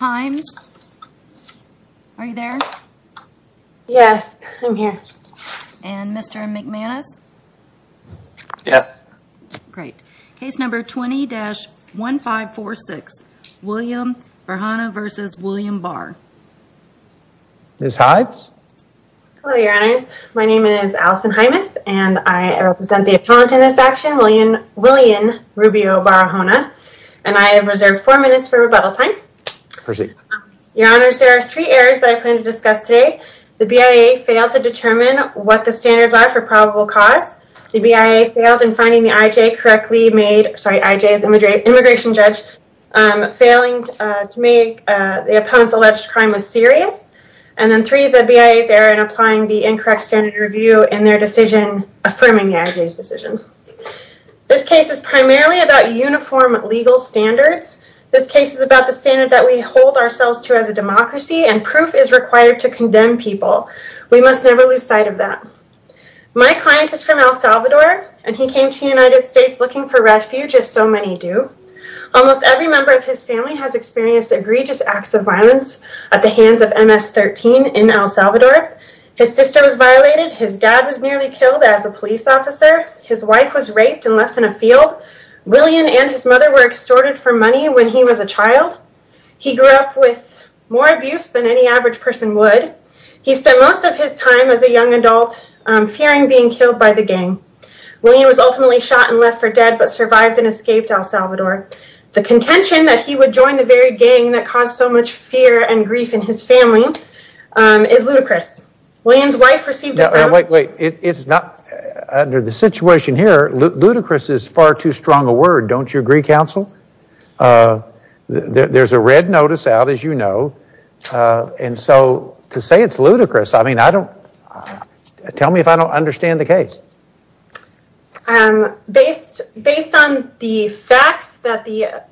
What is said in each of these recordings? Himes, are you there? Yes, I'm here. And Mr. McManus? Yes. Great. Case number 20-1546, William Barahona v. William Barr. Ms. Himes? Hello, your honors. My name is Allison Himes, and I represent the appellant in this action, William Rubio Barahona. And I have reserved four minutes for rebuttal time. Your honors, there are three errors that I plan to discuss today. The BIA failed to determine what the standards are for probable cause. The BIA failed in finding the IJ as immigration judge, failing to make the appellant's alleged crime as serious. And then three, the BIA's error in applying the incorrect standard review in their decision affirming the IJ's decision. This case is primarily about uniform legal standards. This case is about the standard that we hold ourselves to as a democracy, and proof is required to condemn people. We must never lose sight of that. My client is from El Salvador, and he came to the United States looking for refuge, as so many do. Almost every member of his family has experienced egregious acts of violence at the hands of MS-13 in El Salvador. His sister was raped, his dad was nearly killed as a police officer, his wife was raped and left in a field. William and his mother were extorted for money when he was a child. He grew up with more abuse than any average person would. He spent most of his time as a young adult fearing being killed by the gang. William was ultimately shot and left for dead, but survived and escaped El Salvador. The contention that he would join the very gang that caused so much fear and grief in his family is ludicrous. William's wife received asylum... Wait, wait. It's not... Under the situation here, ludicrous is far too strong a word. Don't you agree, counsel? There's a red notice out, as you know, and so to say it's ludicrous, I mean, I don't... Tell me if I don't understand the case. Based on the facts that the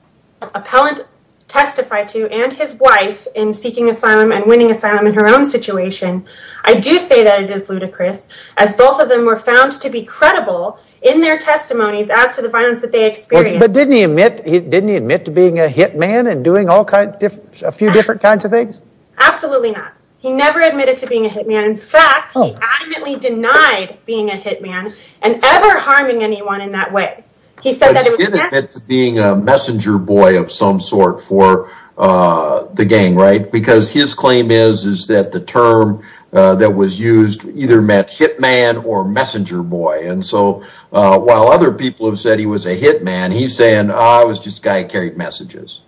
appellant testified to and his wife in seeking asylum and winning her own situation, I do say that it is ludicrous, as both of them were found to be credible in their testimonies as to the violence that they experienced. But didn't he admit, didn't he admit to being a hitman and doing all kinds of, a few different kinds of things? Absolutely not. He never admitted to being a hitman. In fact, he adamantly denied being a hitman and ever harming anyone in that way. He said that it was... But he did admit to being a messenger boy of some sort for the gang, right? Because his claim is, is that the term that was used either meant hitman or messenger boy. And so while other people have said he was a hitman, he's saying, oh, it was just a guy who carried messages.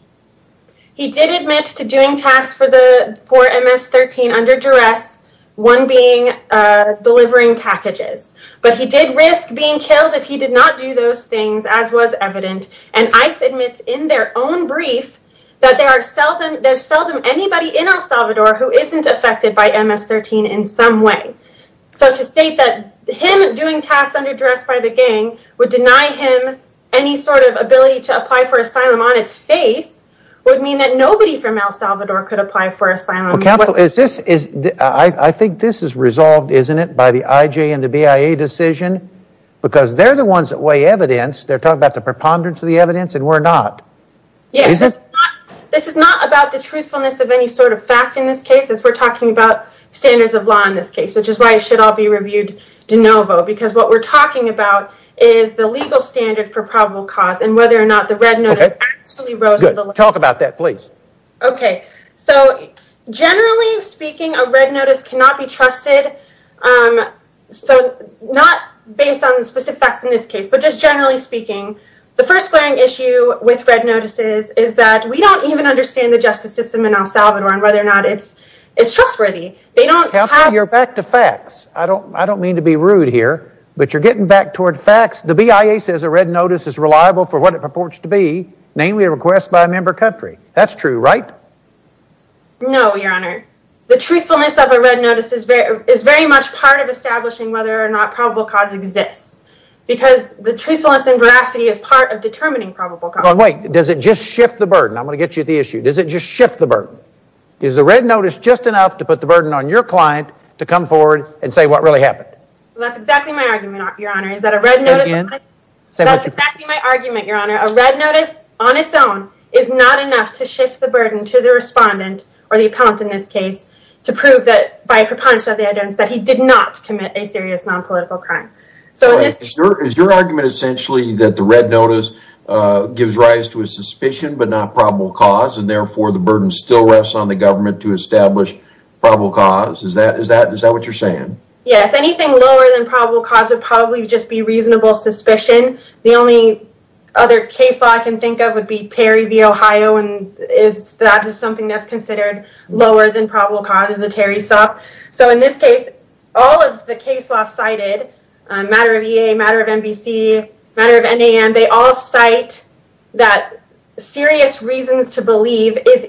He did admit to doing tasks for the, for MS-13 under duress, one being delivering packages. But he did risk being killed if he did not do those things, as was evident. And ICE admits in their own brief that there are seldom, there's seldom anybody in El Salvador who isn't affected by MS-13 in some way. So to state that him doing tasks under duress by the gang would deny him any sort of ability to apply for asylum on its face would mean that nobody from El Salvador could apply for asylum. Counsel, is this, is, I think this is resolved, isn't it, by the IJ and the BIA decision? Because they're the ones that weigh evidence, they're talking about the preponderance of the evidence, and we're not. Yes, this is not about the truthfulness of any sort of fact in this case, as we're talking about standards of law in this case, which is why it should all be reviewed de novo. Because what we're talking about is the legal standard for probable cause and whether or not the red notice actually rose. Talk about that, please. Okay, so generally speaking, a red notice cannot be trusted. So not based on the specific facts in this case, but just generally speaking, the first glaring issue with red notices is that we don't even understand the justice system in El Salvador and whether or not it's, it's trustworthy. They don't have... Counsel, you're back to facts. I don't, I don't mean to be rude here, but you're getting back toward facts. The BIA says a red notice is reliable for what it purports to be, namely a country. That's true, right? No, your honor. The truthfulness of a red notice is very, is very much part of establishing whether or not probable cause exists because the truthfulness and veracity is part of determining probable cause. Wait, does it just shift the burden? I'm going to get you the issue. Does it just shift the burden? Is a red notice just enough to put the burden on your client to come forward and say what really happened? That's exactly my argument, your honor. Is that a red notice? That's exactly my argument, your honor. A red notice on its own is not enough to shift the burden to the respondent or the appellant in this case to prove that by a preponderance of the evidence that he did not commit a serious nonpolitical crime. So is your argument essentially that the red notice gives rise to a suspicion, but not probable cause, and therefore the burden still rests on the government to establish probable cause? Is that, is that, is that what you're saying? Yes, anything lower than probable cause would probably just be reasonable suspicion. The only other case law I can think of would be Terry v. Ohio, and that is something that's considered lower than probable cause is a Terry SOP. So in this case, all of the case law cited, matter of EA, matter of NBC, matter of NAM, they all cite that serious reasons to believe is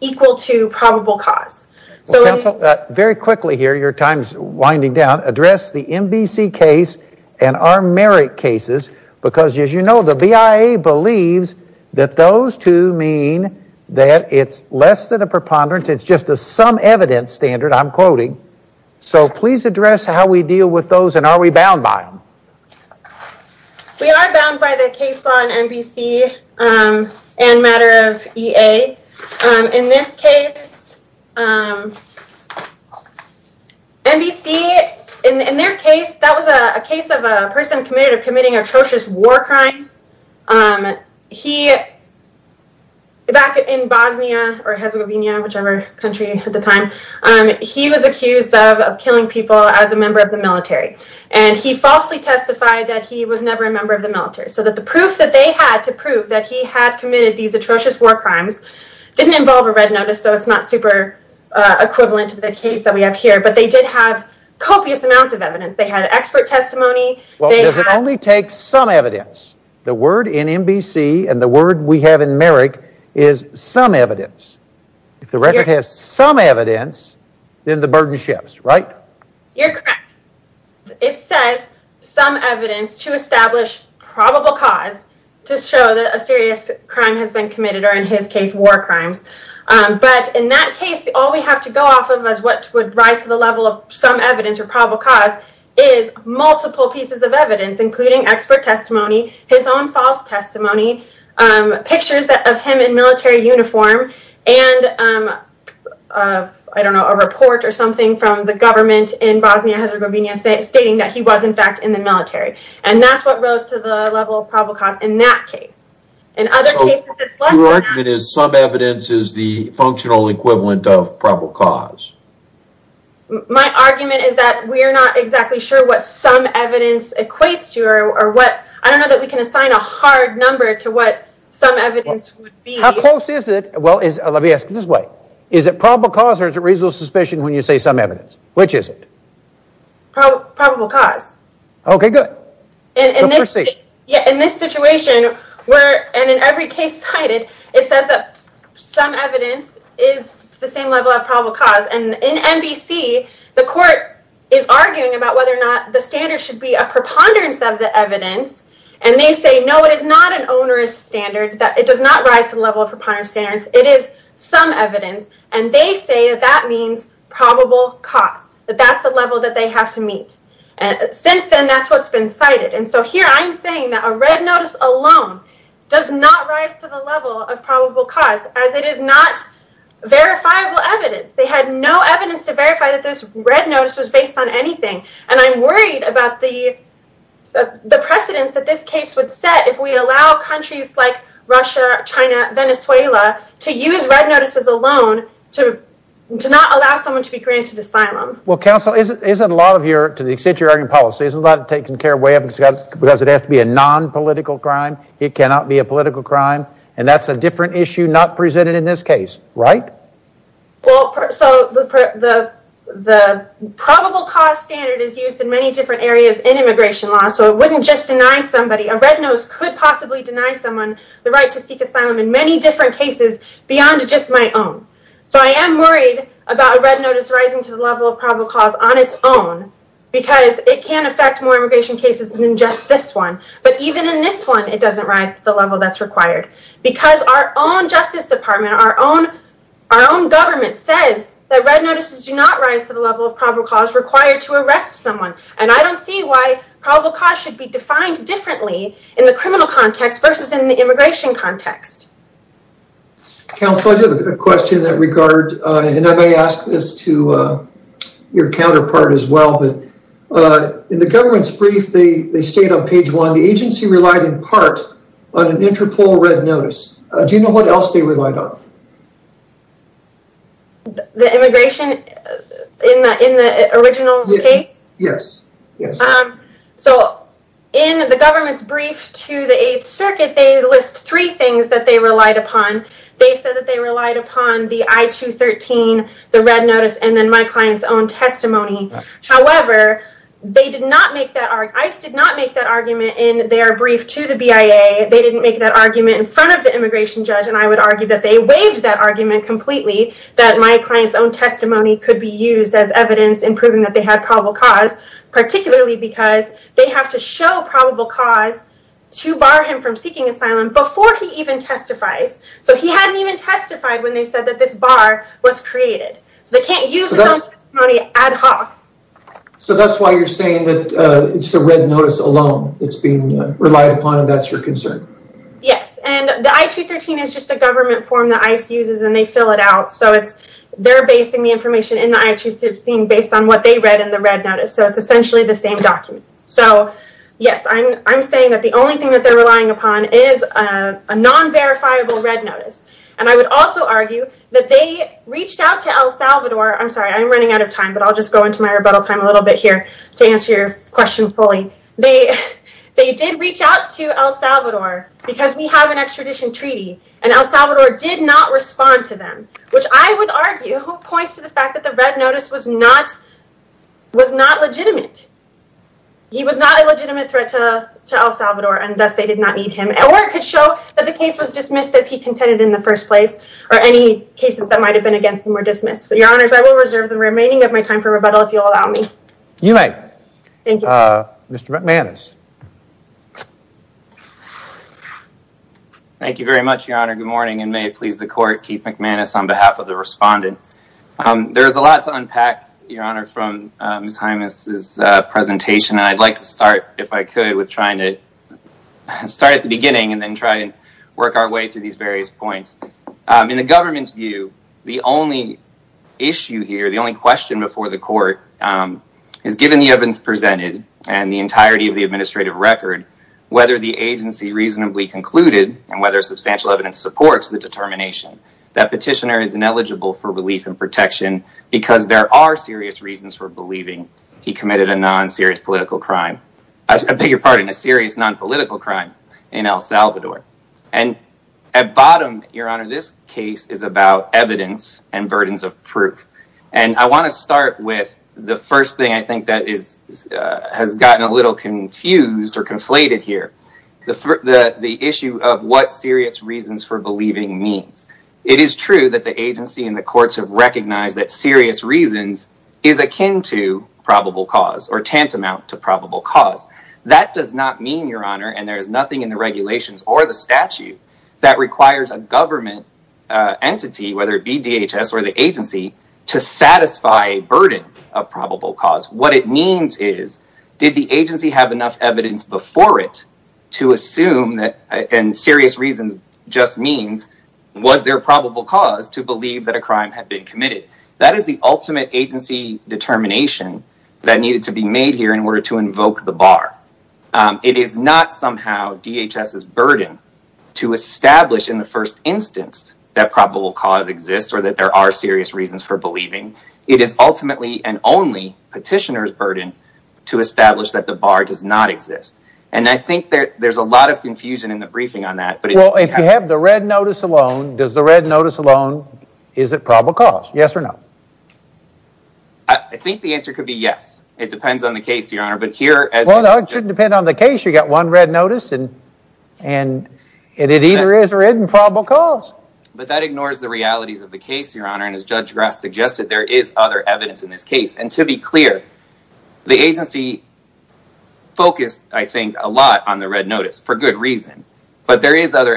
equal to probable cause. Council, very quickly here, your time's winding down, address the NBC case and our merit cases, because as you know, the BIA believes that those two mean that it's less than a preponderance. It's just a some evidence standard I'm quoting. So please address how we deal with those, and are we bound by them? We are bound by the case law in NBC and matter of EA. In this case, NBC, in their case, that was a case of a person committed of committing atrocious war crimes. He, back in Bosnia or Hezbollah, whichever country at the time, he was accused of killing people as a member of the military. And he falsely testified that he was never a member of the military. So that the proof that they had to prove that he had committed these atrocious war crimes didn't involve a red notice. So it's not super equivalent to the case that we have here, but they did have copious amounts of evidence. They had expert testimony. Well, it only takes some evidence. The word in NBC and the word we have in Merrick is some evidence. If the record has some evidence, then the burden shifts, right? You're correct. It says some evidence to establish probable cause to show that a serious crime has been committed, or in his case, war crimes. But in that case, all we have to go off of is what would rise to the level of some evidence or probable cause is multiple pieces of evidence, including expert testimony, his own false testimony, pictures of him in military uniform, and I don't know, a report or something from the government in Bosnia-Herzegovina stating that he was in fact in the military. And that's what rose to the level of probable cause in that case. In other cases, it's less than that. So your argument is some evidence is the functional equivalent of probable cause? My argument is that we're not exactly sure what some evidence equates to or what, I don't know that we can assign a hard number to what some evidence would be. How close is it? Well, let me ask you this way. Is it probable cause or is it reasonable suspicion when you say some evidence? Which is it? Probable cause. Okay, good. So proceed. In this situation, and in every case cited, it says that some evidence is the same level of probable cause. And in NBC, the court is arguing about whether or not the standard should be a preponderance of the evidence. And they say, no, it is not an onerous standard, that it does not rise to the level of preponderance standards. It is some evidence. And they say that that means probable cause, that that's the level that they have to meet. And since then, that's what's been cited. And so here I'm saying that a red notice alone does not rise to the level of verifiable evidence. They had no evidence to verify that this red notice was based on anything. And I'm worried about the precedence that this case would set if we allow countries like Russia, China, Venezuela to use red notices alone to not allow someone to be granted asylum. Well, counsel, isn't a lot of your, to the extent you're arguing policy, isn't a lot of taking care of way of because it has to be a non-political crime. It cannot be a political crime. And that's a different issue not presented in this case, right? Well, so the probable cause standard is used in many different areas in immigration law. So it wouldn't just deny somebody, a red notice could possibly deny someone the right to seek asylum in many different cases beyond just my own. So I am worried about a red notice rising to the level of probable cause on its own because it can affect more immigration cases than just this one. But even in this one, it doesn't rise to the level that's required because our own justice department, our own, our own government says that red notices do not rise to the level of probable cause required to arrest someone. And I don't see why probable cause should be defined differently in the criminal context versus in the immigration context. Counsel, I have a question that regard, and I may ask this to your counterpart as well, but in the government's brief, they stayed on page one, the agency relied in part on an Interpol red notice. Do you know what else they relied on? The immigration in the, in the original case? Yes. Yes. So in the government's brief to the Eighth Circuit, they list three things that they relied upon. They said that they relied upon the I-213, the red notice, and then my client's own testimony. However, they did not make that, ICE did not make that argument in their brief to the BIA. They didn't make that argument in front of the immigration judge. And I would argue that they waived that argument completely, that my client's own testimony could be used as evidence in proving that they had probable cause, particularly because they have to show probable cause to bar him from seeking asylum before he even testifies. So he hadn't even testified when they said that this bar was created. So they can't use his testimony ad hoc. So that's why you're saying that it's the red notice alone that's being relied upon and that's your concern? Yes. And the I-213 is just a government form that ICE uses and they fill it out. So it's, they're basing the information in the I-213 based on what they read in the red notice. So it's essentially the same document. So yes, I'm, I'm saying that the only thing that they're relying upon is a non-verifiable red notice. And I would also argue that they reached out to El Salvador, I'm sorry, I'm running out of time, but I'll just go into my rebuttal time a little bit here to answer your question fully. They, they did reach out to El Salvador because we have an extradition treaty and El Salvador did not respond to them, which I would argue points to the fact that the red notice was not, was not legitimate. He was not a legitimate threat to, to El Salvador and thus they did not need him. Or it could show that the case was dismissed as he contended in the first place or any cases that might've been against him were dismissed. But your honors, I will reserve the remaining of my time for rebuttal if you'll allow me. You may. Thank you. Mr. McManus. Thank you very much, your honor. Good morning and may it please the court, Keith McManus on behalf of the respondent. There's a lot to unpack your honor from Ms. Hymas's presentation. And I'd like to start if I could with trying to start at the beginning and then try and work our way through these various points. In the government's view, the only issue here, the only question before the court is given the evidence presented and the entirety of the administrative record, whether the agency reasonably concluded and whether substantial evidence supports the determination that petitioner is ineligible for relief and protection because there are serious reasons for believing he committed a non-serious political crime. I beg your pardon, a serious non-political crime in El Salvador. And at bottom, your honor, this case is about evidence and burdens of proof. And I want to start with the first thing I think that has gotten a little confused or conflated here. The issue of what serious reasons for believing means. It is true that the agency and the courts have recognized that serious reasons is akin to probable cause. That does not mean, your honor, and there is nothing in the regulations or the statute that requires a government entity, whether it be DHS or the agency, to satisfy a burden of probable cause. What it means is, did the agency have enough evidence before it to assume that, and serious reasons just means, was there probable cause to believe that a crime had been committed? That is the ultimate agency determination that needed to be made here in order to invoke the bar. It is not somehow DHS' burden to establish in the first instance that probable cause exists or that there are serious reasons for believing. It is ultimately and only petitioner's burden to establish that the bar does not exist. And I think that there's a lot of confusion in the briefing on that. Well, if you have the red notice alone, does the red notice alone, is it probable cause? Yes or no? I think the answer could be yes. It depends on the case, your honor. Well, no, it shouldn't depend on the case. You got one red notice and it either is or isn't probable cause. But that ignores the realities of the case, your honor. And as Judge Grass suggested, there is other evidence in this case. And to be clear, the agency focused, I think, a lot on the red notice for good reason. But there is other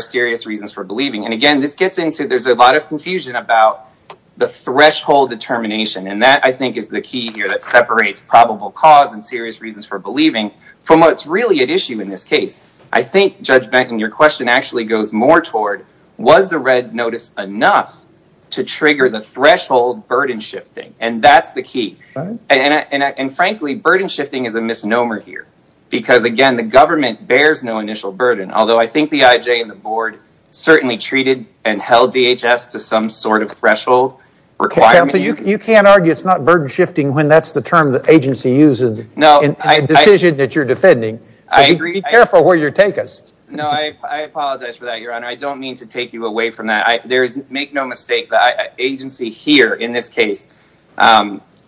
serious reasons for believing. And again, this gets into, there's a lot of confusion about the threshold determination. And that, I think, is the key here that separates probable cause and serious reasons for believing from what's really at issue in this case. I think, Judge Benton, your question actually goes more toward was the red notice enough to trigger the threshold burden shifting? And that's the key. And frankly, burden shifting is a misnomer here. Because again, the government bears no initial burden. Although I think the IJ and the board certainly treated and held DHS to some sort of threshold requirement. You can't argue it's not burden shifting when that's the term the agency uses in the decision that you're defending. I agree. Be careful where you take us. No, I apologize for that, your honor. I don't mean to take you away from that. Make no mistake, the agency here in this case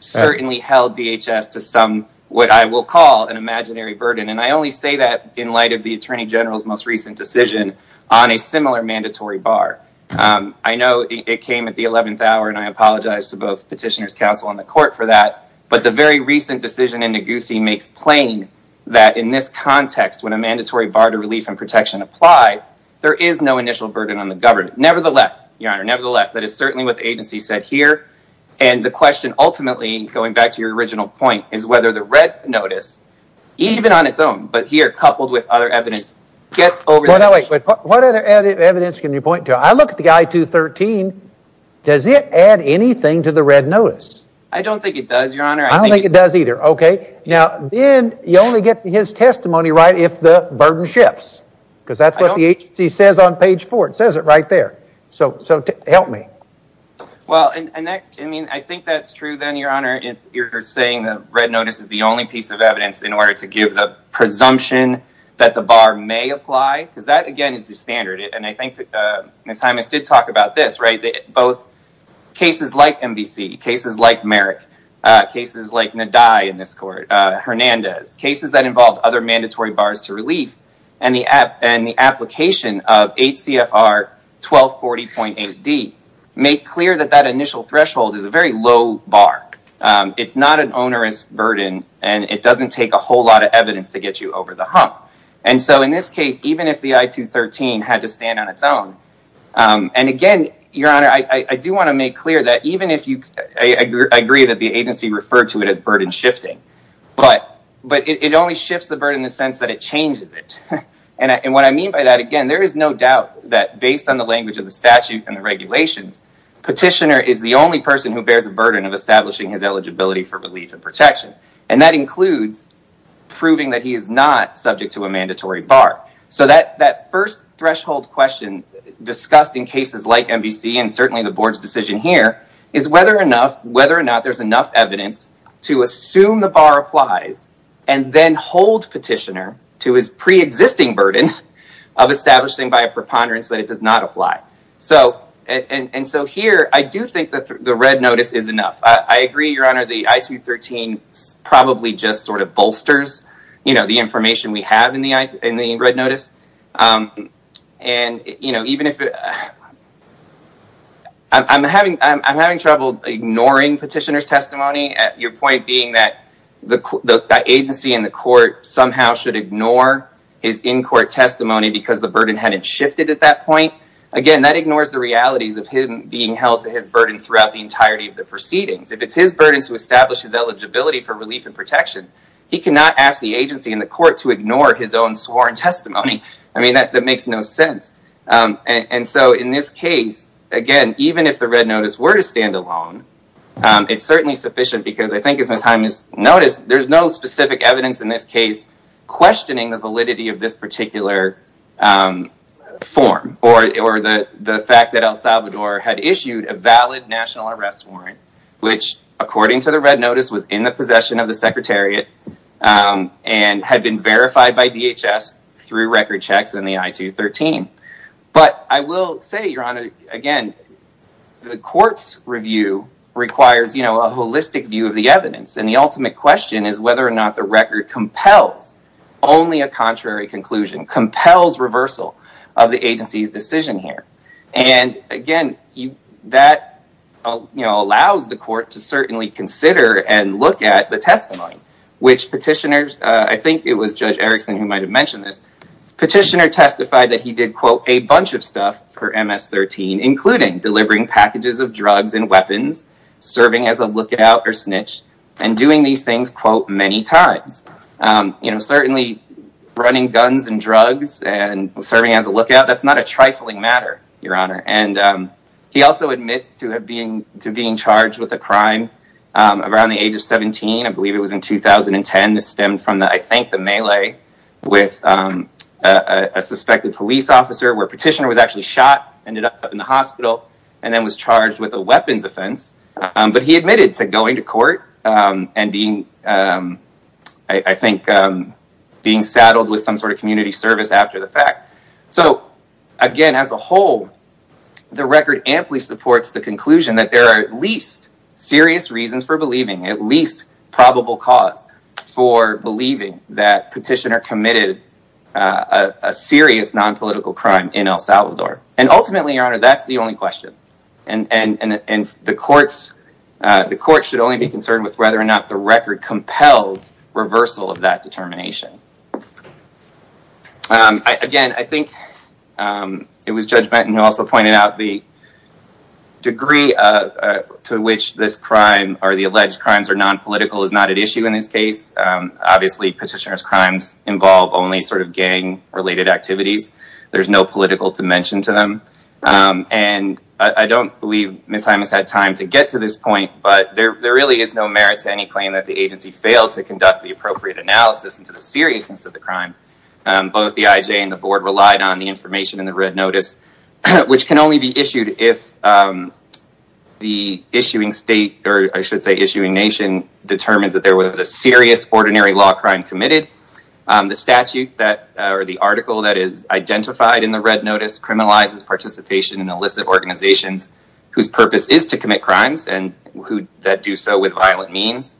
certainly held DHS to what I will call an imaginary burden. And I only say that in light of the Attorney General's most recent decision on a similar mandatory bar. I know it came at the 11th hour and I apologize to both petitioner's counsel and the court for that. But the very recent decision in Negussie makes plain that in this context, when a mandatory bar to relief and protection applied, there is no initial burden on the government. Nevertheless, your honor, nevertheless, that is certainly what whether the red notice, even on its own, but here coupled with other evidence, gets over the What other evidence can you point to? I look at the I-213. Does it add anything to the red notice? I don't think it does, your honor. I don't think it does either. Okay. Now, then you only get his testimony right if the burden shifts. Because that's what the agency says on page four. It says it right there. So help me. Well, I mean, I think that's true then, you're saying the red notice is the only piece of evidence in order to give the presumption that the bar may apply. Because that again is the standard. And I think Ms. Hymas did talk about this, right? Both cases like NBC, cases like Merrick, cases like Nadai in this court, Hernandez, cases that involved other mandatory bars to relief and the application of 8 CFR 1240.8D make clear that that initial threshold is a very low bar. It's not an onerous burden, and it doesn't take a whole lot of evidence to get you over the hump. And so in this case, even if the I-213 had to stand on its own, and again, your honor, I do want to make clear that even if you agree that the agency referred to it as burden shifting, but it only shifts the burden in the sense that it changes it. And what I mean by that, again, there is no doubt that based on the language of the statute and the regulations, petitioner is only person who bears a burden of establishing his eligibility for relief and protection. And that includes proving that he is not subject to a mandatory bar. So that first threshold question discussed in cases like NBC and certainly the board's decision here is whether or not there's enough evidence to assume the bar applies and then hold petitioner to his pre-existing burden of establishing by a preponderance that it does not apply. And so here, I do think that the red notice is enough. I agree, your honor, the I-213 probably just sort of bolsters the information we have in the red notice. And even if I'm having trouble ignoring petitioner's red notice, I do think that the agency and the court somehow should ignore his in-court testimony because the burden hadn't shifted at that point. Again, that ignores the realities of him being held to his burden throughout the entirety of the proceedings. If it's his burden to establish his eligibility for relief and protection, he cannot ask the agency and the court to ignore his own sworn testimony. I mean, that makes no sense. And so in this case, again, even if the red notice, there's no specific evidence in this case questioning the validity of this particular form or the fact that El Salvador had issued a valid national arrest warrant, which according to the red notice was in the possession of the secretariat and had been verified by DHS through record checks in the I-213. But I will say, your honor, again, the court's review requires a holistic view of the evidence. And the ultimate question is whether or not the record compels only a contrary conclusion, compels reversal of the agency's decision here. And again, that allows the court to certainly consider and look at the testimony, which petitioners, I think it was Judge Erickson who might have mentioned this, petitioner testified that he did, quote, a bunch of stuff for MS-13, including delivering packages of drugs and weapons, serving as a lookout or snitch, and doing these things, quote, many times. Certainly running guns and drugs and serving as a lookout, that's not a trifling matter, your honor. And he also admits to being charged with a crime around the age of 17. I believe it was in 2010. This stemmed from, I think, the melee with a suspected police officer where a petitioner was actually shot, ended up in the hospital, and then was charged with a weapons offense. But he admitted to going to court and being, I think, being saddled with some sort of community service after the fact. So, again, as a whole, the record amply supports the conclusion that there are at least serious reasons for believing, at least probable cause for believing that petitioner committed a serious nonpolitical crime in El Salvador. And ultimately, your honor, that's the only question. And the courts should only be concerned with whether or not the record compels reversal of that determination. Again, I think it was Judge Benton who also pointed out the degree to which this crime or the alleged crimes are nonpolitical is not at issue in this case. Obviously, petitioner's crimes involve only sort of gang-related activities. There's no political dimension to them. And I don't believe Ms. Hymas had time to get to this point, but there really is no merit to any claim that the agency failed to conduct the appropriate analysis into the seriousness of the crime. Both the IJ and the board relied on the information in the red notice, which can only be issued if the issuing state or I should say issuing nation determines that there was a serious ordinary law crime committed. The statute that or the article that is identified in the red notice criminalizes participation in illicit organizations whose purpose is to commit crimes and that do so with violent means.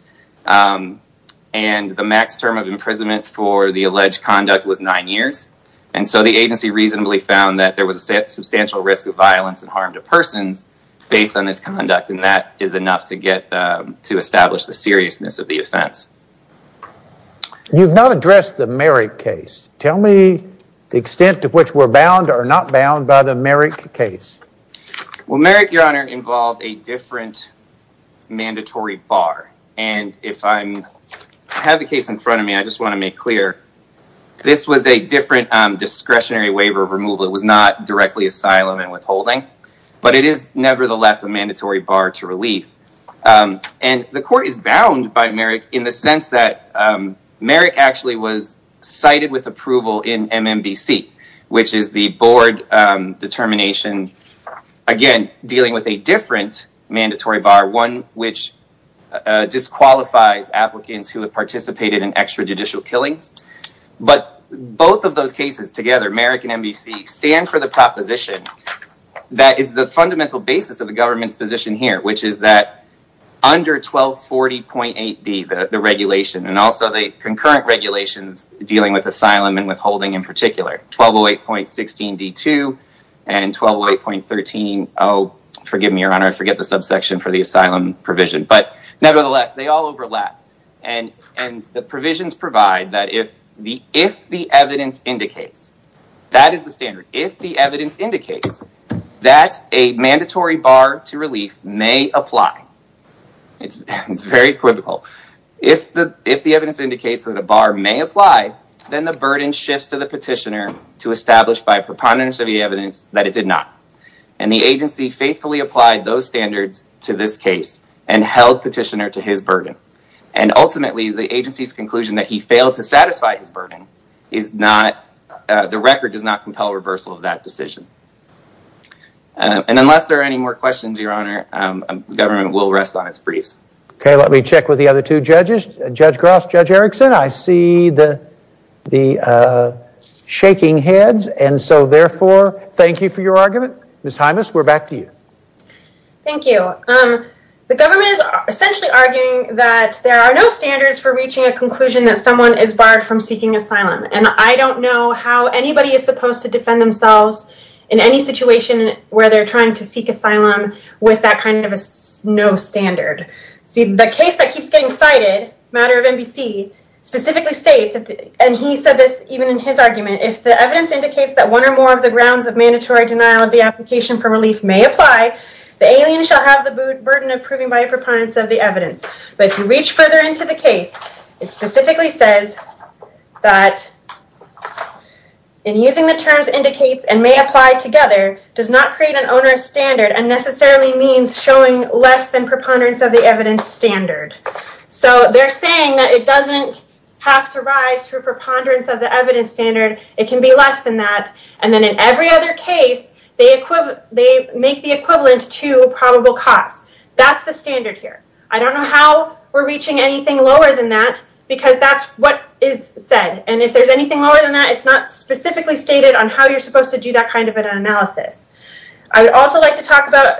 And the max term of imprisonment for the alleged conduct was nine years. And so the agency reasonably found that there was a substantial risk of violence and harm to persons based on this conduct. And that is enough to get to establish the seriousness of the offense. You've not addressed the Merrick case. Tell me the extent to which we're bound or not bound by the Merrick case. Well, Merrick, your honor, involved a different mandatory bar. And if I have the case in front of me, I just want to make clear this was a different discretionary waiver of removal. It was not directly asylum and withholding. But it is nevertheless a mandatory bar to relief. And the court is bound by Merrick in the sense that Merrick actually was cited with approval in MMBC, which is the board determination, again, dealing with a different mandatory bar, one which disqualifies applicants who have participated in extrajudicial killings. But both of those cases together, Merrick and MBC, stand for the proposition that is the fundamental basis of the government's position here, which is that under 1240.8D, the regulation, and also the concurrent regulations dealing with asylum and withholding in particular, 1208.16D2 and 1208.13, oh, forgive me, your honor, I forget the subsection for the asylum provision. But nevertheless, they all overlap. And the provisions provide that if the evidence indicates, that is the standard. If the evidence indicates that a mandatory bar to relief may apply, it's very critical. If the evidence indicates that a bar may apply, then the burden shifts to the petitioner to establish by preponderance of the evidence that it did not. And the agency faithfully applied those standards to this case and held petitioner to his burden. And ultimately, the agency's conclusion that he failed to satisfy his burden is not, the record does not compel reversal of that decision. And unless there are any more questions, your honor, government will rest on its briefs. Okay, let me check with the other two judges. Judge Gross, Judge Erickson, I see the shaking heads. And so therefore, thank you for your argument. Ms. Hymas, we're back to you. Thank you. The government is essentially arguing that there are no standards for reaching a conclusion that someone is barred from seeking asylum. And I don't know how anybody is supposed to defend themselves in any situation where they're trying to seek asylum with that kind of no standard. See, the case that keeps getting cited, matter of NBC, specifically states, and he said this even in his argument, if the evidence indicates that one or more of the grounds of mandatory denial of the application for relief may apply, the alien shall have the burden of proving by a preponderance of the evidence. But if you reach further into the case, it specifically says that, in using the terms indicates and may apply together, does not create an onerous standard and necessarily means showing less than preponderance of the evidence standard. So they're saying that it doesn't have to rise to a preponderance of the evidence standard. It can be less than that. And then in every other case, they make the equivalent to probable cause. That's the standard here. I don't know how we're reaching anything lower than that, because that's what is said. And if there's anything lower than that, it's not specifically stated on how you're to talk about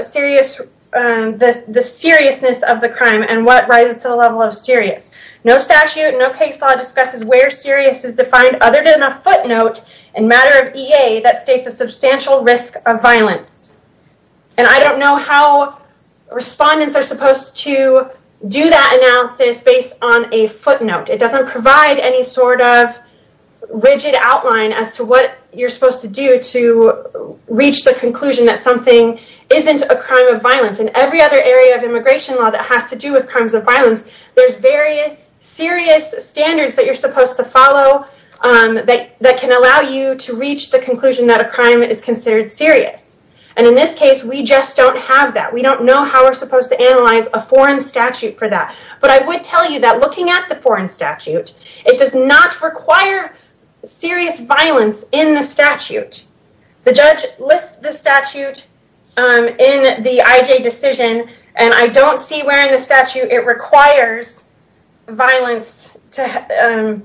the seriousness of the crime and what rises to the level of serious. No statute, no case law discusses where serious is defined other than a footnote in matter of EA that states a substantial risk of violence. And I don't know how respondents are supposed to do that analysis based on a footnote. It doesn't provide any sort of rigid outline as to what you're supposed to do to reach the conclusion that something isn't a crime of violence. In every other area of immigration law that has to do with crimes of violence, there's very serious standards that you're supposed to follow that can allow you to reach the conclusion that a crime is considered serious. And in this case, we just don't have that. We don't know how we're supposed to analyze a foreign statute for that. But I would tell you that looking at the foreign statute, it does not require serious violence in the statute. The judge lists the statute in the IJ decision, and I don't see where in the statute it requires violence in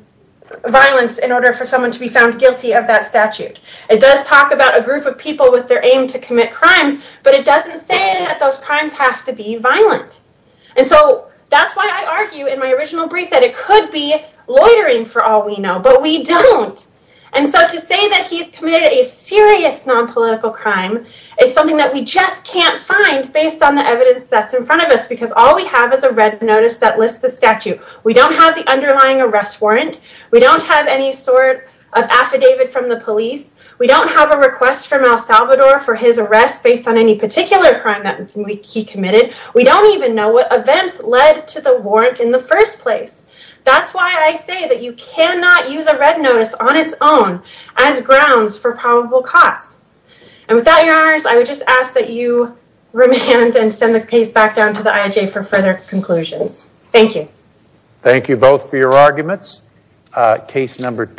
order for someone to be found guilty of that statute. It does talk about a group of people with their aim to commit crimes, but it doesn't say that those crimes have to be violent. And so that's why I argue in my loitering for all we know, but we don't. And so to say that he's committed a serious non-political crime is something that we just can't find based on the evidence that's in front of us, because all we have is a red notice that lists the statute. We don't have the underlying arrest warrant. We don't have any sort of affidavit from the police. We don't have a request from El Salvador for his arrest based on any particular crime that he committed. We don't even know what led to the warrant in the first place. That's why I say that you cannot use a red notice on its own as grounds for probable cause. And without your honors, I would just ask that you remand and send the case back down to the IJ for further conclusions. Thank you. Thank you both for your arguments. Case number